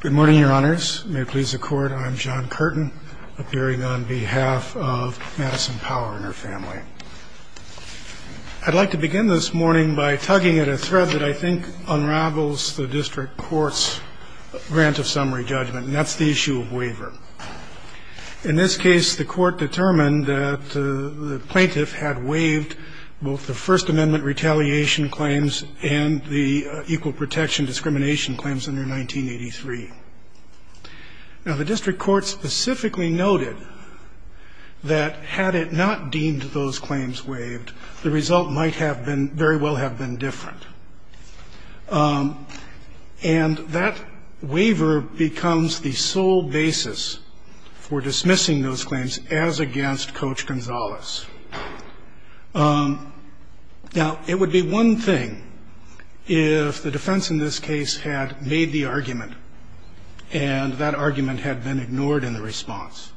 Good morning, your honors. May it please the court, I'm John Curtin, appearing on behalf of Madison Power and her family. I'd like to begin this morning by tugging at a thread that I think unravels the district court's grant of summary judgment, and that's the issue of waiver. In this case, the court determined that the plaintiff had waived both the First Amendment retaliation claims and the equal protection discrimination claims under 1983. Now, the district court specifically noted that had it not deemed those claims waived, the result might have been, very well have been different. And that waiver becomes the sole basis for dismissing those claims as against Coach Gonzalez. Now, it would be one thing if the defense in this case had made the argument and that argument had been ignored in the response.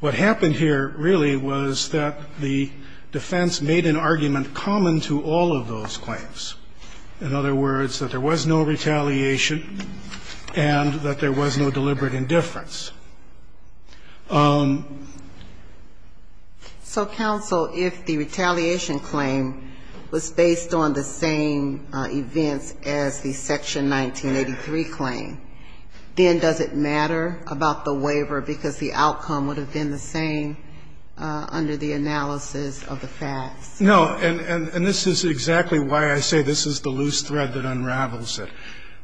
What happened here, really, was that the defense made an argument common to all of those claims. In other words, that there was no retaliation and that there was no deliberate indifference. So, counsel, if the retaliation claim was based on the same events as the Section 1983 claim, then does it matter about the waiver because the outcome would have been the same under the analysis of the facts? No. And this is exactly why I say this is the loose thread that unravels it.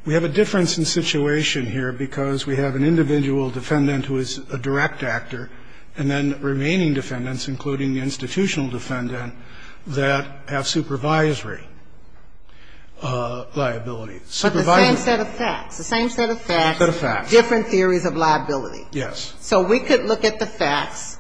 We have a difference in situation here because we have an individual defendant who is a direct actor and then remaining defendants, including the institutional defendant, that have supervisory liability. But the same set of facts. The same set of facts. The same set of facts. Different theories of liability. Yes. So we could look at the facts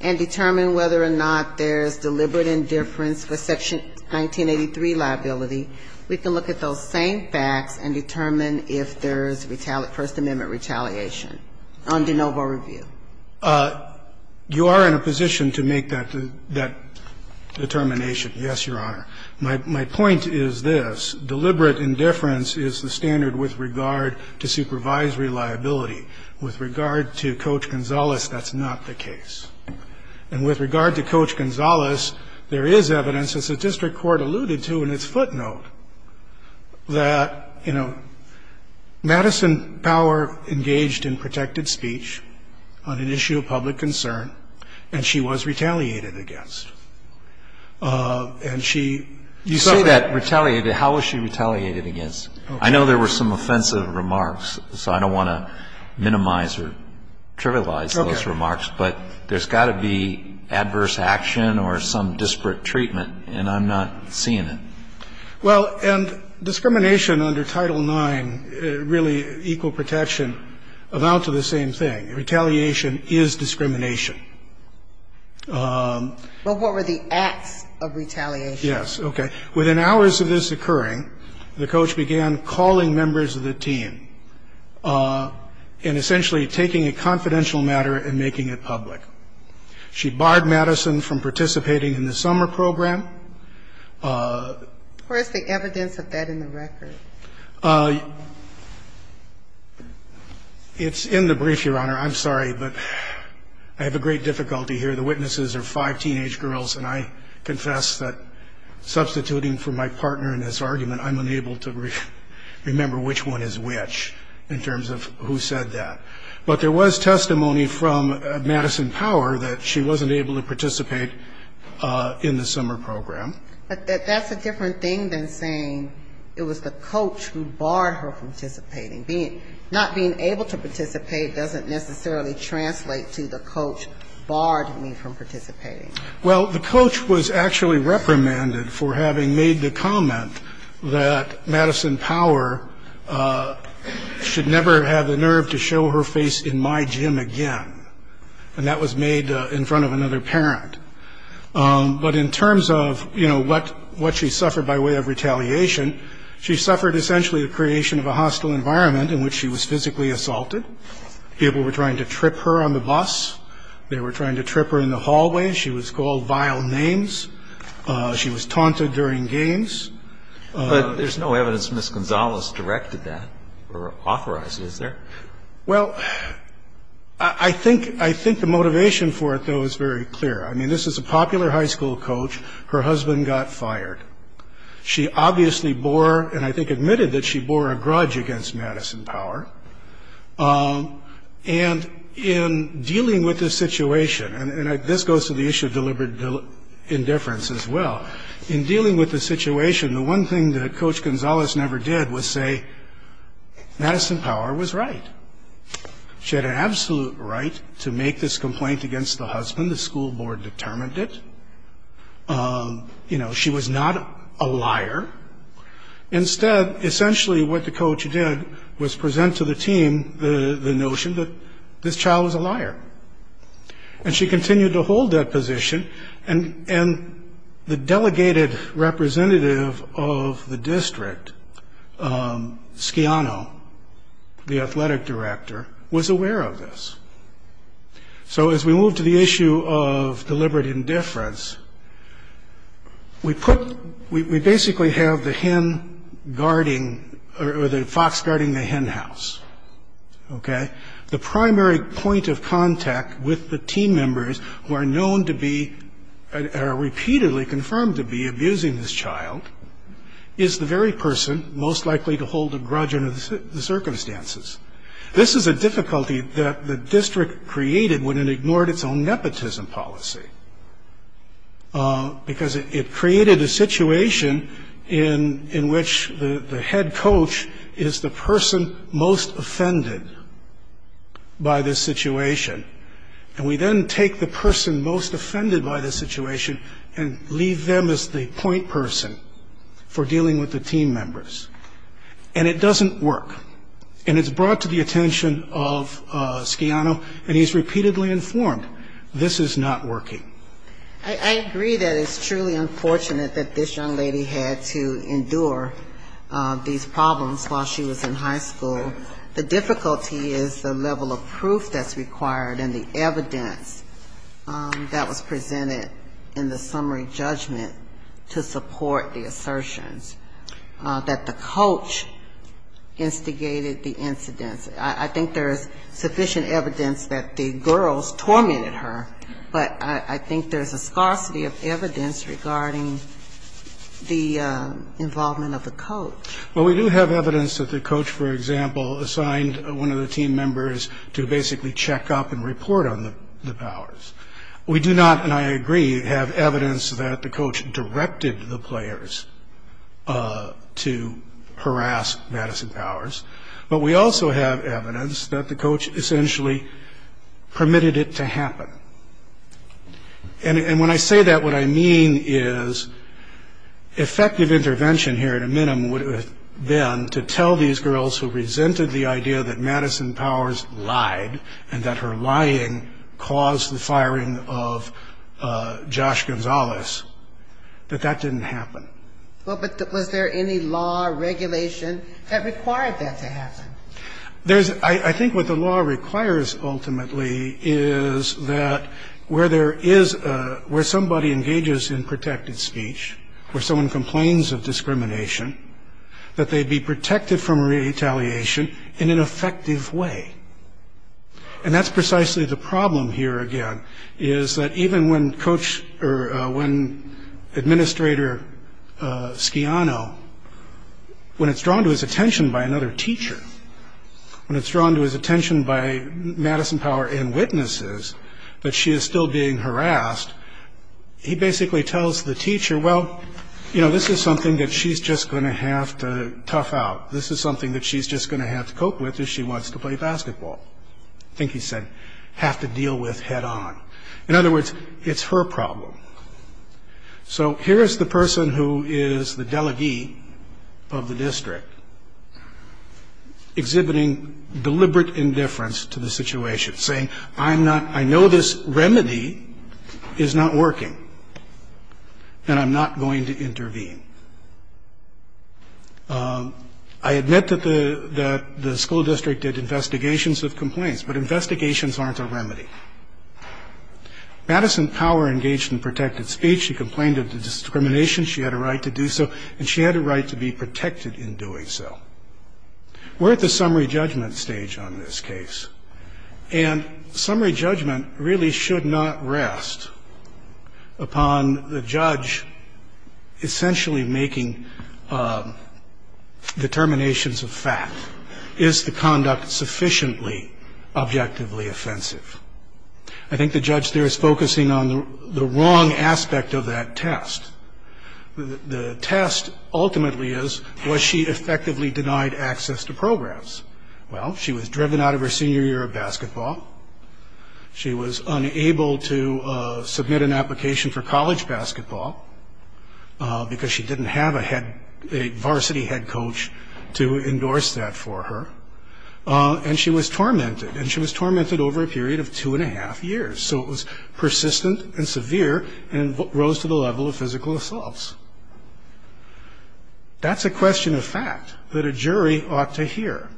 and determine whether or not there's deliberate indifference for Section 1983 liability. We can look at those same facts and determine if there's First Amendment retaliation under noble review. You are in a position to make that determination, yes, Your Honor. My point is this. Deliberate indifference is the standard with regard to supervisory liability. With regard to Coach Gonzalez, that's not the case. And with regard to Coach Gonzalez, there is evidence, as the district court alluded to in its footnote, that, you know, Madison Power engaged in protected speech on an issue of public concern, and she was retaliated against. And she said that retaliated. How was she retaliated against? I know there were some offensive remarks, so I don't want to minimize or trivialize those remarks. But there's got to be adverse action or some disparate treatment, and I'm not seeing it. Well, and discrimination under Title IX, really equal protection, amount to the same thing. Retaliation is discrimination. But what were the acts of retaliation? Yes, okay. Within hours of this occurring, the coach began calling members of the team and essentially taking a confidential matter and making it public. She barred Madison from participating in the summer program. Where's the evidence of that in the record? It's in the brief, Your Honor. I'm sorry, but I have a great difficulty here. The witnesses are five teenage girls, and I confess that substituting for my partner in this argument, I'm unable to remember which one is which in terms of who said that. But there was testimony from Madison Power that she wasn't able to participate in the summer program. But that's a different thing than saying it was the coach who barred her from participating. Not being able to participate doesn't necessarily translate to the coach barred me from participating. Well, the coach was actually reprimanded for having made the comment that Madison Power should never have the nerve to show her face in my gym again. And that was made in front of another parent. But in terms of, you know, what she suffered by way of retaliation, she suffered essentially the creation of a hostile environment in which she was physically assaulted. People were trying to trip her on the bus. They were trying to trip her in the hallway. She was called vile names. She was taunted during games. But there's no evidence Ms. Gonzalez directed that or authorized it, is there? Well, I think the motivation for it, though, is very clear. I mean, this is a popular high school coach. Her husband got fired. She obviously bore, and I think admitted that she bore, a grudge against Madison Power. And in dealing with this situation, and this goes to the issue of deliberate indifference as well, in dealing with the situation, the one thing that Coach Gonzalez never did was say Madison Power was right. She had an absolute right to make this complaint against the husband. The school board determined it. You know, she was not a liar. Instead, essentially what the coach did was present to the team the notion that this child was a liar. And she continued to hold that position. And the delegated representative of the district, Schiano, the athletic director, was aware of this. So as we move to the issue of deliberate indifference, we basically have the hen guarding or the fox guarding the hen house, okay? The primary point of contact with the team members who are known to be or are repeatedly confirmed to be abusing this child is the very person most likely to hold a grudge under the circumstances. This is a difficulty that the district created when it ignored its own nepotism policy, because it created a situation in which the head coach is the person most offended by this situation. And we then take the person most offended by this situation and leave them as the point person for dealing with the team members. And it doesn't work. And it's brought to the attention of Schiano, and he's repeatedly informed, this is not working. I agree that it's truly unfortunate that this young lady had to endure these problems while she was in high school. The difficulty is the level of proof that's required and the evidence that was presented in the summary judgment to support the assertions that the coach instigated the incidents. I think there is sufficient evidence that the girls tormented her, but I think there's a scarcity of evidence regarding the involvement of the coach. Well, we do have evidence that the coach, for example, assigned one of the team members to basically check up and report on the powers. We do not, and I agree, have evidence that the coach directed the players to harass Madison Powers, but we also have evidence that the coach essentially permitted it to happen. And when I say that, what I mean is effective intervention here at a minimum would have been to tell these girls who resented the idea that Madison Powers lied and that her lying caused the firing of Josh Gonzalez, that that didn't happen. Well, but was there any law or regulation that required that to happen? I think what the law requires, ultimately, is that where somebody engages in protected speech, where someone complains of discrimination, that they be protected from retaliation in an effective way. And that's precisely the problem here, again, is that even when Coach, or when Administrator Schiano, when it's drawn to his attention by another teacher, when it's drawn to his attention by Madison Power and witnesses, that she is still being harassed, he basically tells the teacher, well, you know, this is something that she's just going to have to tough out. This is something that she's just going to have to cope with if she wants to play basketball. I think he said, have to deal with head on. In other words, it's her problem. So here is the person who is the delegee of the district, exhibiting deliberate indifference to the situation, saying, I'm not, I know this remedy is not working, and I'm not going to intervene. I admit that the school district did investigations of complaints, but investigations aren't a remedy. Madison Power engaged in protected speech, she complained of discrimination, she had a right to do so, and she had a right to be protected in doing so. We're at the summary judgment stage on this case. And summary judgment really should not rest upon the judge essentially making determinations of fact. Is the conduct sufficiently objectively offensive? I think the judge there is focusing on the wrong aspect of that test. The test ultimately is, was she effectively denied access to programs? Well, she was driven out of her senior year of basketball. She was unable to submit an application for college basketball, because she didn't have a varsity head coach to endorse that for her. And she was tormented, and she was tormented over a period of two and a half years. So it was persistent and severe and rose to the level of physical assaults. That's a question of fact that a jury ought to hear.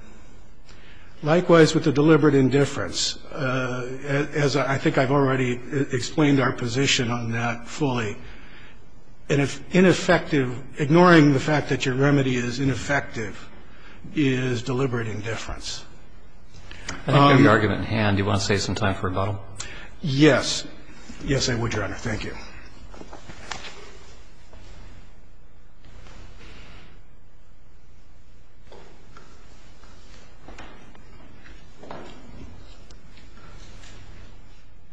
Likewise with the deliberate indifference, as I think I've already explained our position on that fully. And if ineffective, ignoring the fact that your remedy is ineffective is deliberate indifference. I think we have the argument in hand. Do you want to save some time for rebuttal? Yes. Yes, I would, Your Honor. Thank you.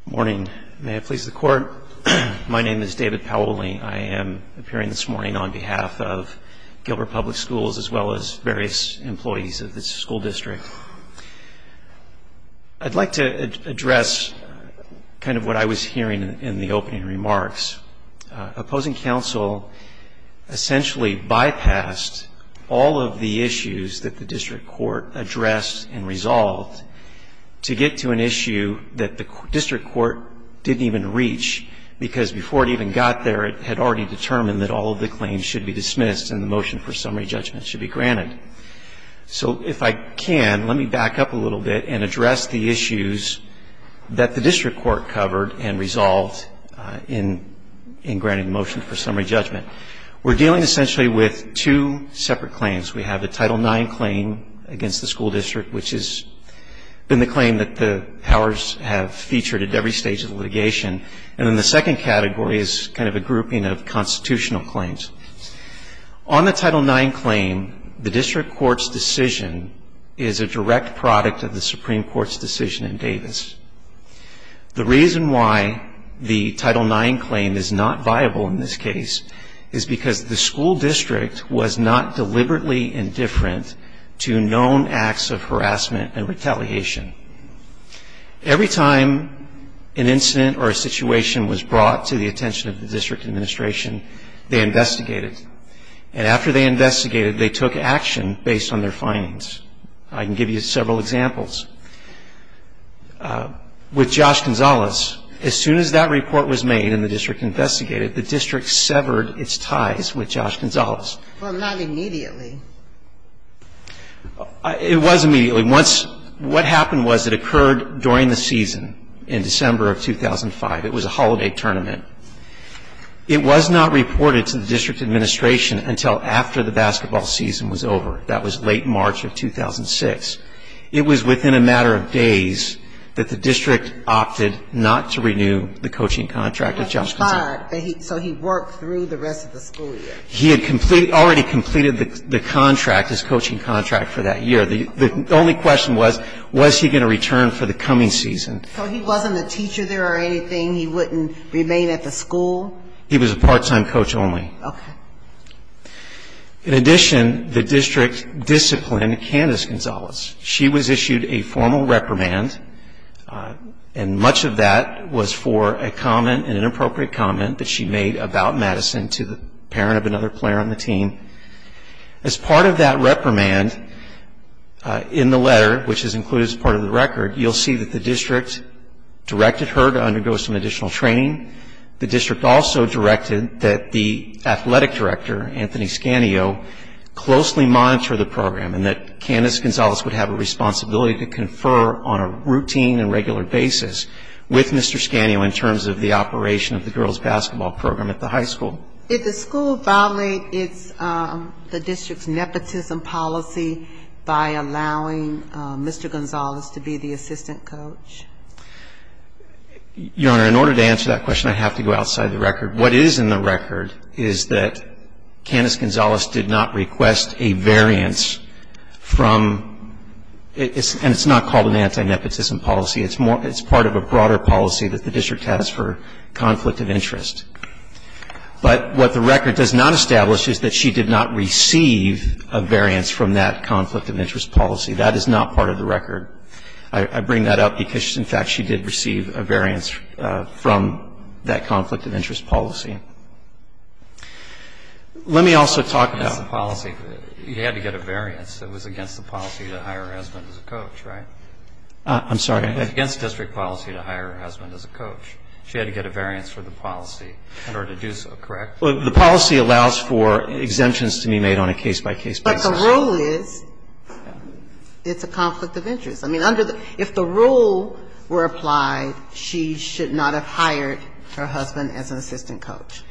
Morning. May it please the Court. My name is David Powley. I am appearing this morning on behalf of Gilbert Public Schools as well as various employees of this school district. I'd like to address kind of what I was hearing in the opening remarks. Opposing counsel essentially bypassed all of the issues that the district court addressed and resolved to get to an issue that the district court didn't even reach, because before it even got there, it had already determined that all of the claims should be dismissed So if I can, let me back up a little bit and address the issues that the district court covered and resolved in granting the motion for summary judgment. We're dealing essentially with two separate claims. We have the Title IX claim against the school district, which has been the claim that the powers have featured at every stage of the litigation. And then the second category is kind of a grouping of constitutional claims. On the Title IX claim, the district court's decision is a direct product of the Supreme Court's decision in Davis. The reason why the Title IX claim is not viable in this case is because the school district was not deliberately indifferent to known acts of harassment and retaliation. Every time an incident or a situation was brought to the attention of the district administration, they investigated. And after they investigated, they took action based on their findings. I can give you several examples. With Josh Gonzalez, as soon as that report was made and the district investigated, the district severed its ties with Josh Gonzalez. Well, not immediately. It was immediately. What happened was it occurred during the season in December of 2005. It was a holiday tournament. It was not reported to the district administration until after the basketball season was over. That was late March of 2006. It was within a matter of days that the district opted not to renew the coaching contract of Josh Gonzalez. So he worked through the rest of the school year. He had already completed the contract, his coaching contract, for that year. The only question was, was he going to return for the coming season? So he wasn't a teacher there or anything? He wouldn't remain at the school? He was a part-time coach only. Okay. In addition, the district disciplined Candace Gonzalez. She was issued a formal reprimand, and much of that was for a comment, an inappropriate comment that she made about Madison to the parent of another player on the team. As part of that reprimand in the letter, which is included as part of the record, you'll see that the district directed her to undergo some additional training. The district also directed that the athletic director, Anthony Scantio, closely monitor the program and that Candace Gonzalez would have a responsibility to confer on a routine and regular basis with Mr. Scantio in terms of the operation of the girls' basketball program at the high school. Did the school violate the district's nepotism policy by allowing Mr. Gonzalez to be the assistant coach? Your Honor, in order to answer that question, I have to go outside the record. What is in the record is that Candace Gonzalez did not request a variance from ñ and it's not called an anti-nepotism policy. It's part of a broader policy that the district has for conflict of interest. But what the record does not establish is that she did not receive a variance from that conflict of interest policy. That is not part of the record. I bring that up because, in fact, she did receive a variance from that conflict of interest policy. Let me also talk about ñ It was against the policy. You had to get a variance. It was against the policy to hire her husband as a coach, right? I'm sorry. It was against district policy to hire her husband as a coach. She had to get a variance for the policy in order to do so, correct? Well, the policy allows for exemptions to be made on a case-by-case basis. But the rule is it's a conflict of interest. I mean, under the ñ if the rule were applied, she should not have hired her husband as an assistant coach.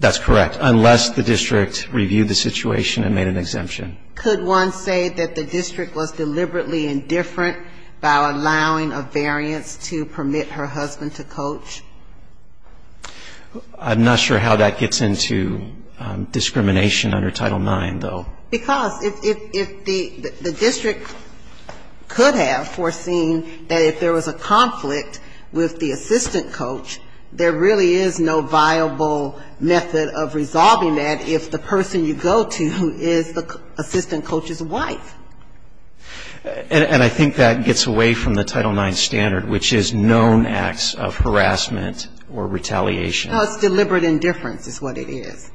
That's correct, unless the district reviewed the situation and made an exemption. Could one say that the district was deliberately indifferent by allowing a variance to permit her husband to coach? I'm not sure how that gets into discrimination under Title IX, though. Because if the district could have foreseen that if there was a conflict with the assistant coach, there really is no viable method of resolving that if the person you go to is the assistant coach's wife. And I think that gets away from the Title IX standard, which is known acts of harassment or retaliation. Because deliberate indifference is what it is.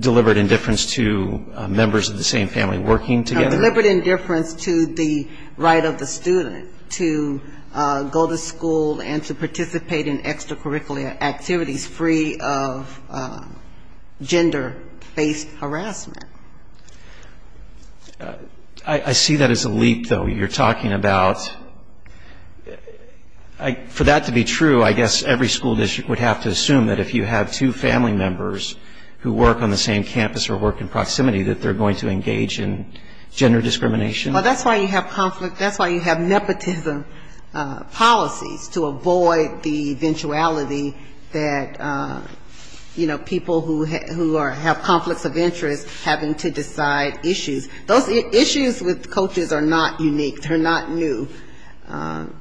Deliberate indifference to members of the same family working together? Deliberate indifference to the right of the student to go to school and to participate in extracurricular activities free of gender-based harassment. I see that as a leap, though. You're talking about ñ for that to be true, I guess every school district would have to assume that if you have two family members who work on the same campus or work in proximity, that they're going to engage in gender discrimination. Well, that's why you have conflict ñ that's why you have nepotism policies, to avoid the eventuality that, you know, people who have conflicts of interest having to decide issues. Those issues with coaches are not unique. They're not new.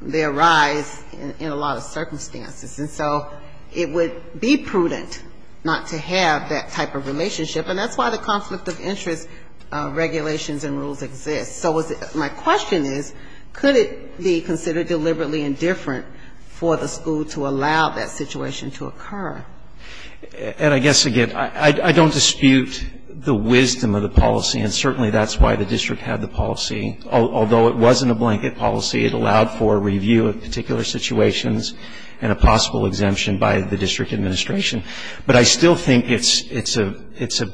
They arise in a lot of circumstances. And so it would be prudent not to have that type of relationship. And that's why the conflict of interest regulations and rules exist. So my question is, could it be considered deliberately indifferent for the school to allow that situation to occur? And I guess, again, I don't dispute the wisdom of the policy. And certainly that's why the district had the policy. Although it wasn't a blanket policy, it allowed for a review of particular situations and a possible exemption by the district administration. But I still think it's a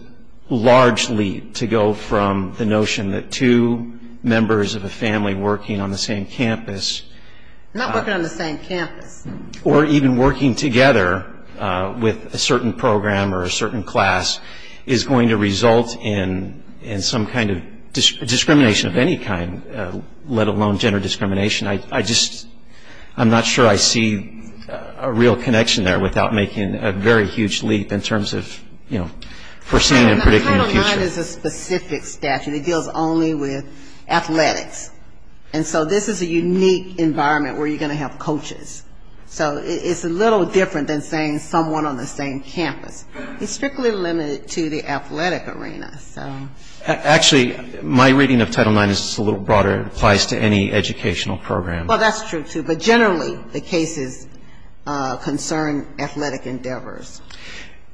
large leap to go from the notion that two members of a family working on the same campus ñ Not working on the same campus. ñ or even working together with a certain program or a certain class is going to result in some kind of discrimination of any kind, let alone gender discrimination. I just ñ I'm not sure I see a real connection there without making a very huge leap in terms of, you know, foreseeing and predicting the future. Title IX is a specific statute. It deals only with athletics. And so this is a unique environment where you're going to have coaches. So it's a little different than saying someone on the same campus. It's strictly limited to the athletic arena. Actually, my reading of Title IX is a little broader. It applies to any educational program. Well, that's true, too. But generally the cases concern athletic endeavors.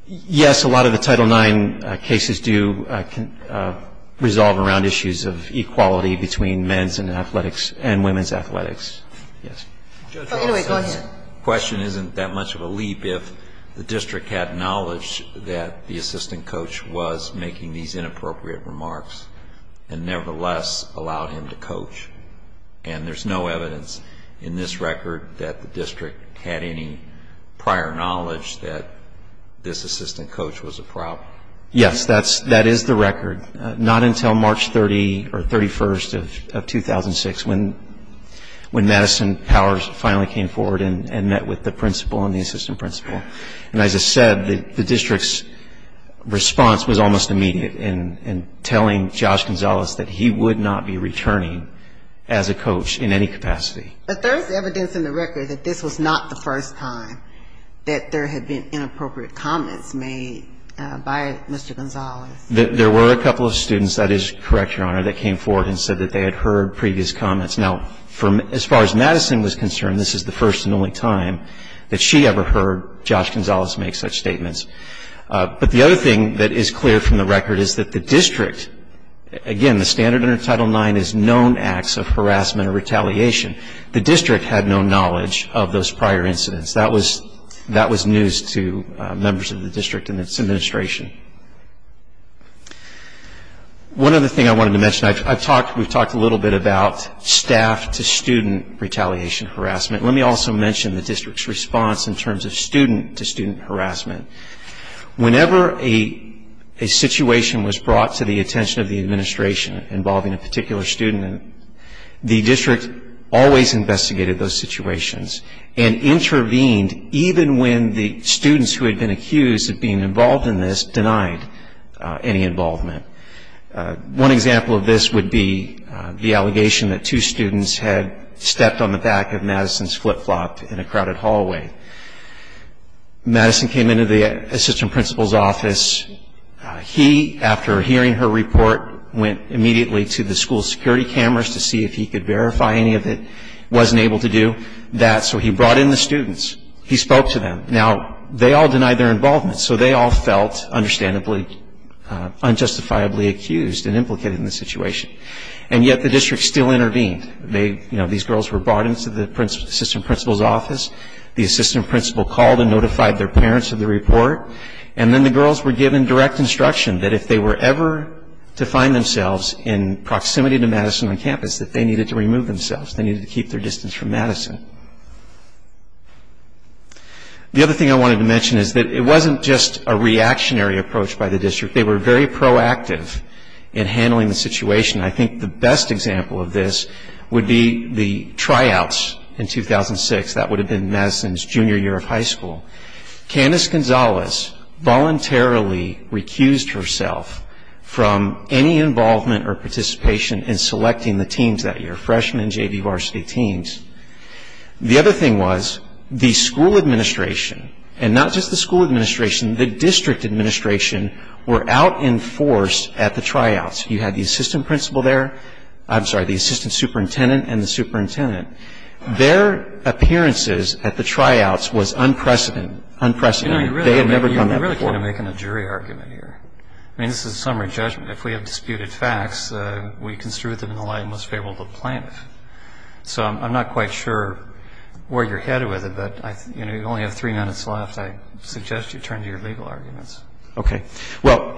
Yes. A lot of the Title IX cases do resolve around issues of equality between men's athletics and women's athletics. Yes. Anyway, go ahead. The question isn't that much of a leap if the district had knowledge that the assistant remarks and nevertheless allowed him to coach. And there's no evidence in this record that the district had any prior knowledge that this assistant coach was a problem. Yes, that is the record. Not until March 30 or 31 of 2006 when Madison Powers finally came forward and met with the principal and the assistant principal. And as I said, the district's response was almost immediate in telling Josh Gonzalez that he would not be returning as a coach in any capacity. But there's evidence in the record that this was not the first time that there had been inappropriate comments made by Mr. Gonzalez. There were a couple of students, that is correct, Your Honor, that came forward and said that they had heard previous comments. Now, as far as Madison was concerned, this is the first and only time that she ever heard Josh Gonzalez make such statements. But the other thing that is clear from the record is that the district, again, the standard under Title IX is known acts of harassment or retaliation. The district had no knowledge of those prior incidents. That was news to members of the district and its administration. One other thing I wanted to mention, we've talked a little bit about staff-to-student retaliation harassment. Let me also mention the district's response in terms of student-to-student harassment. Whenever a situation was brought to the attention of the administration involving a particular student, the district always investigated those situations and intervened even when the students who had been accused of being involved in this denied any involvement. One example of this would be the allegation that two students had stepped on the back of Madison's flip-flop in a crowded hallway. Madison came into the assistant principal's office. He, after hearing her report, went immediately to the school's security cameras to see if he could verify any of it. He wasn't able to do that, so he brought in the students. He spoke to them. Now, they all denied their involvement, so they all felt understandably unjustifiably accused and implicated in the situation, and yet the district still intervened. These girls were brought into the assistant principal's office. The assistant principal called and notified their parents of the report, and then the girls were given direct instruction that if they were ever to find themselves in proximity to Madison on campus, that they needed to remove themselves. They needed to keep their distance from Madison. The other thing I wanted to mention is that it wasn't just a reactionary approach by the district. They were very proactive in handling the situation. I think the best example of this would be the tryouts in 2006. That would have been Madison's junior year of high school. Candace Gonzalez voluntarily recused herself from any involvement or participation in selecting the teams that year, freshman and junior varsity teams. The other thing was the school administration, and not just the school administration, the district administration were out in force at the tryouts. You had the assistant principal there. I'm sorry, the assistant superintendent and the superintendent. Their appearances at the tryouts was unprecedented. They had never done that before. You really can't make a jury argument here. I mean, this is a summary judgment. If we have disputed facts, we construe them in the light and most favorable to the plaintiff. So I'm not quite sure where you're headed with it, but you only have three minutes left. I suggest you turn to your legal arguments. Okay. Well,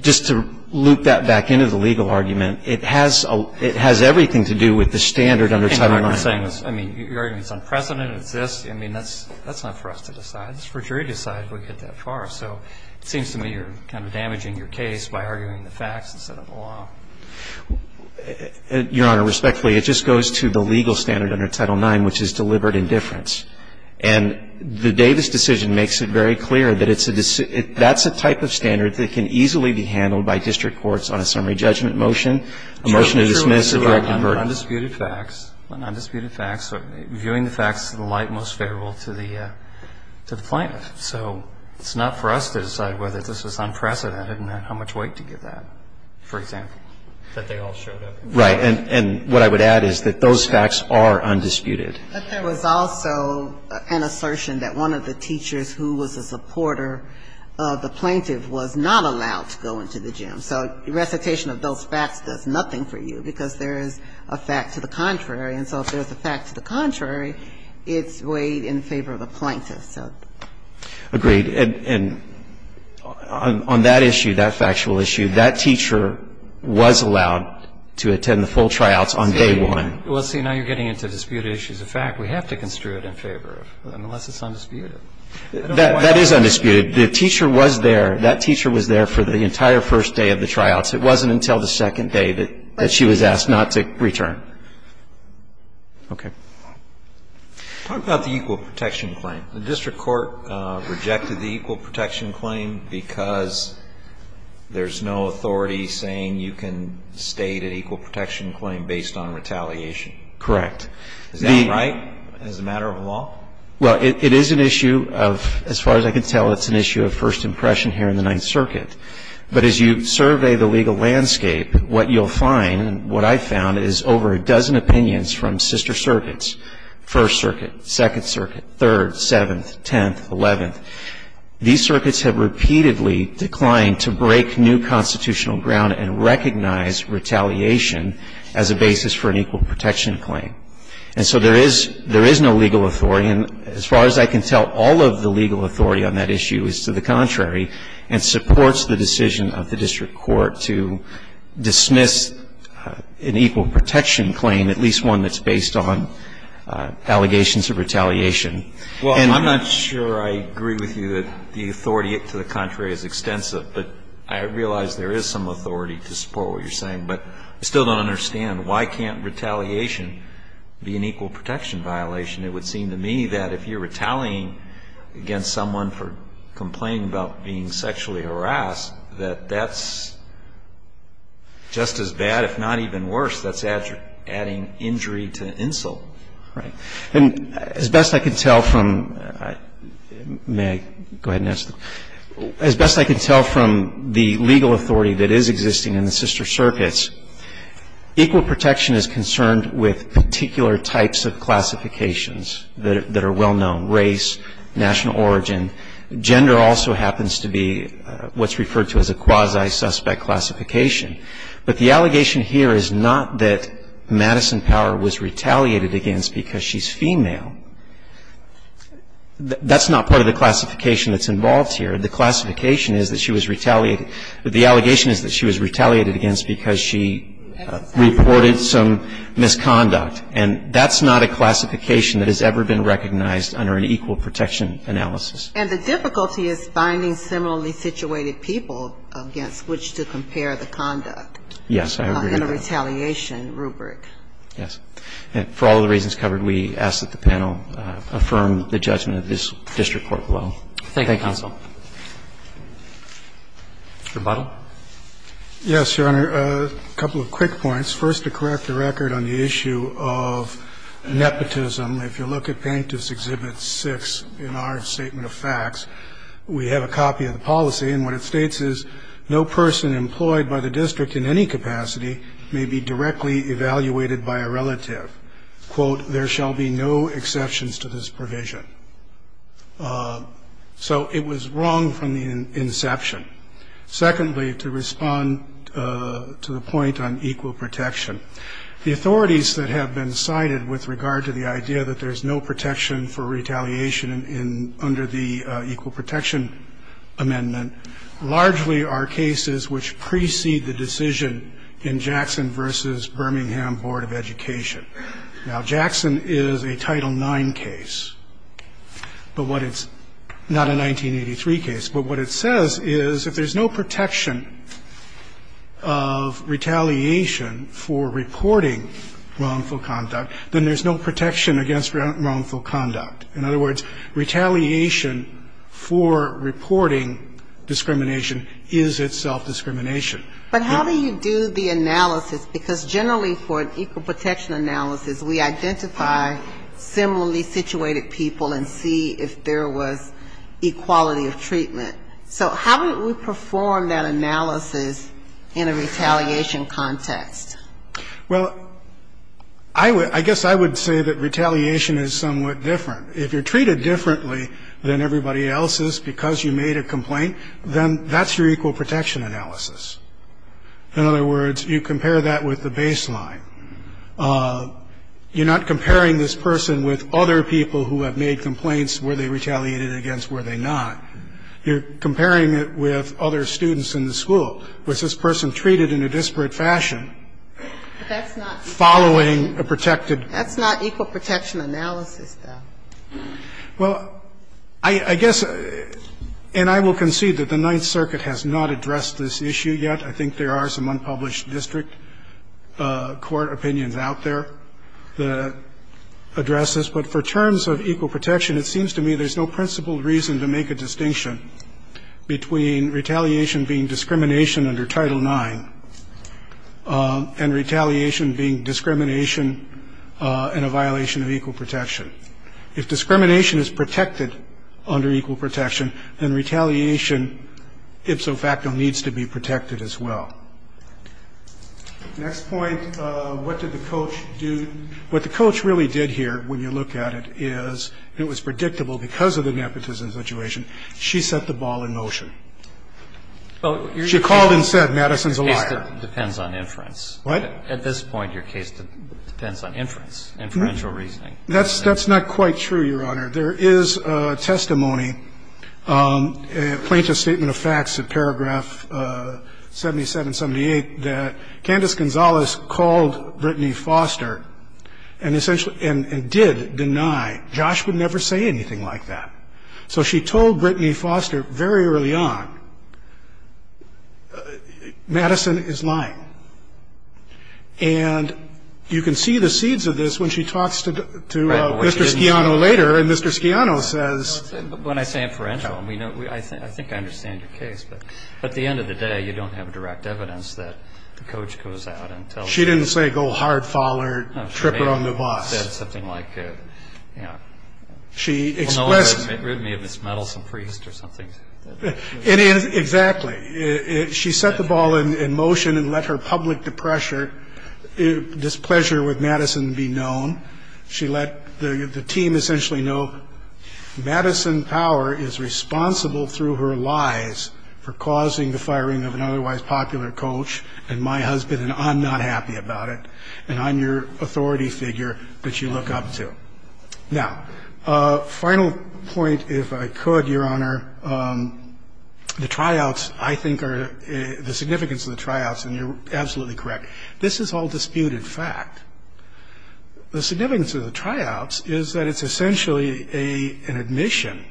just to loop that back into the legal argument, it has everything to do with the standard under Title IX. I mean, you're arguing it's unprecedented. It's this. I mean, that's not for us to decide. It's for a jury to decide if we get that far. So it seems to me you're kind of damaging your case by arguing the facts instead of the law. Your Honor, respectfully, it just goes to the legal standard under Title IX, which is deliberate indifference. And the Davis decision makes it very clear that it's a decision that's a type of standard that can easily be handled by district courts on a summary judgment motion, a motion to dismiss, a direct conversion. Undisputed facts. Undisputed facts. Viewing the facts to the light and most favorable to the plaintiff. So it's not for us to decide whether this is unprecedented and how much weight to give that, for example. That they all showed up. Right. And what I would add is that those facts are undisputed. But there was also an assertion that one of the teachers who was a supporter of the plaintiff was not allowed to go into the gym. So recitation of those facts does nothing for you because there is a fact to the contrary. And so if there's a fact to the contrary, it's weighed in favor of the plaintiff. Agreed. And on that issue, that factual issue, that teacher was allowed to attend the full tryouts on day one. Well, see, now you're getting into disputed issues of fact. We have to construe it in favor of, unless it's undisputed. That is undisputed. The teacher was there. That teacher was there for the entire first day of the tryouts. It wasn't until the second day that she was asked not to return. Okay. Talk about the equal protection claim. The district court rejected the equal protection claim because there's no authority saying you can state an equal protection claim based on retaliation. Correct. Is that right as a matter of law? Well, it is an issue of, as far as I can tell, it's an issue of first impression here in the Ninth Circuit. But as you survey the legal landscape, what you'll find, what I found, is over a dozen opinions from sister circuits, First Circuit, Second Circuit, Third, Seventh, Tenth, Eleventh. These circuits have repeatedly declined to break new constitutional ground and recognize retaliation as a basis for an equal protection claim. And so there is no legal authority. And as far as I can tell, all of the legal authority on that issue is to the contrary and supports the decision of the district court to dismiss an equal protection claim, at least one that's based on allegations of retaliation. Well, I'm not sure I agree with you that the authority to the contrary is extensive. But I realize there is some authority to support what you're saying. But I still don't understand. Why can't retaliation be an equal protection violation? It would seem to me that if you're retaliating against someone for complaining about being sexually harassed, that that's just as bad, if not even worse. That's adding injury to insult. Right. And as best I can tell from the legal authority that is existing in the sister circuits, equal protection is concerned with particular types of classifications that are well-known, race, national origin. Gender also happens to be what's referred to as a quasi-suspect classification. But the allegation here is not that Madison Power was retaliated against because she's female. That's not part of the classification that's involved here. The classification is that she was retaliated. The allegation is that she was retaliated against because she reported some misconduct. And that's not a classification that has ever been recognized under an equal protection analysis. And the difficulty is finding similarly situated people against which to compare the conduct. Yes. I agree with that. In a retaliation rubric. Yes. And for all of the reasons covered, we ask that the panel affirm the judgment of this district court below. Thank you. Thank you, counsel. Mr. Butler. Yes, Your Honor. A couple of quick points. First, to correct the record on the issue of nepotism. If you look at plaintiff's exhibit six in our statement of facts, we have a copy of the policy. And what it states is, no person employed by the district in any capacity may be directly evaluated by a relative. Quote, there shall be no exceptions to this provision. So it was wrong from the inception. Secondly, to respond to the point on equal protection. The authorities that have been cited with regard to the idea that there's no protection for retaliation under the equal protection amendment, largely are cases which precede the decision in Jackson versus Birmingham Board of Education. Now, Jackson is a Title IX case, but what it's not a 1983 case. But what it says is if there's no protection of retaliation for reporting wrongful conduct, then there's no protection against wrongful conduct. In other words, retaliation for reporting discrimination is itself discrimination. But how do you do the analysis? Because generally for an equal protection analysis, we identify similarly situated people and see if there was equality of treatment. So how do we perform that analysis in a retaliation context? Well, I guess I would say that retaliation is somewhat different. If you're treated differently than everybody else is because you made a complaint, then that's your equal protection analysis. In other words, you compare that with the baseline. You're not comparing this person with other people who have made complaints. Were they retaliated against? Were they not? You're comparing it with other students in the school. Was this person treated in a disparate fashion following a protected? That's not equal protection analysis, though. Well, I guess, and I will concede that the Ninth Circuit has not addressed this issue yet. I think there are some unpublished district court opinions out there that address this. But for terms of equal protection, it seems to me there's no principled reason to make a distinction between retaliation being discrimination under Title IX and retaliation being discrimination and a violation of equal protection. If discrimination is protected under equal protection, then retaliation ipso facto needs to be protected as well. Next point, what did the coach do? What the coach really did here, when you look at it, is it was predictable because of the nepotism situation. She set the ball in motion. She called and said Madison's a liar. The case depends on inference. What? At this point, your case depends on inference, inferential reasoning. That's not quite true, Your Honor. There is testimony, a plaintiff's statement of facts in paragraph 77, 78, that Candace Gonzalez called Brittany Foster and essentially did deny. Josh would never say anything like that. So she told Brittany Foster very early on, Madison is lying. And you can see the seeds of this when she talks to Mr. Schiano later in this case. Mr. Schiano says. When I say inferential, I think I understand your case. But at the end of the day, you don't have direct evidence that the coach goes out and tells you. She didn't say go hard fall her, trip her on the bus. She may have said something like, you know. She expressed. Well, no, it may have been Ms. Metelson-Priest or something. Exactly. She set the ball in motion and let her public depression, displeasure with Madison be known. She let the team essentially know Madison Power is responsible through her lies for causing the firing of an otherwise popular coach and my husband. And I'm not happy about it. And I'm your authority figure that you look up to. Now, final point, if I could, Your Honor. The tryouts, I think, are the significance of the tryouts. And you're absolutely correct. This is all disputed fact. The significance of the tryouts is that it's essentially an admission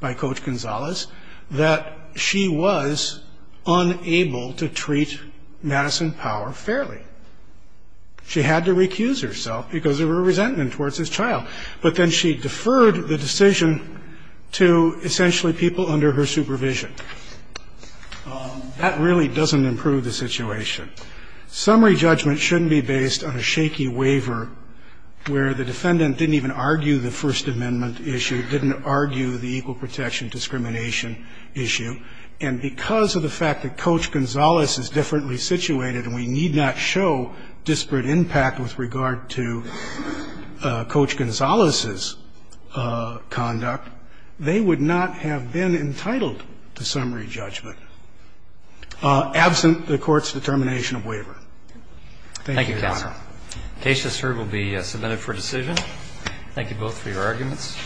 by Coach Gonzalez that she was unable to treat Madison Power fairly. She had to recuse herself because of her resentment towards this trial. But then she deferred the decision to essentially people under her supervision. That really doesn't improve the situation. Summary judgment shouldn't be based on a shaky waiver where the defendant didn't even argue the First Amendment issue, didn't argue the equal protection discrimination issue. And because of the fact that Coach Gonzalez is differently situated and we need not show disparate impact with regard to Coach Gonzalez's conduct, they would not have been entitled to summary judgment. Absent the Court's determination of waiver. Thank you, Your Honor. Thank you, counsel. The case to serve will be submitted for decision. Thank you both for your arguments.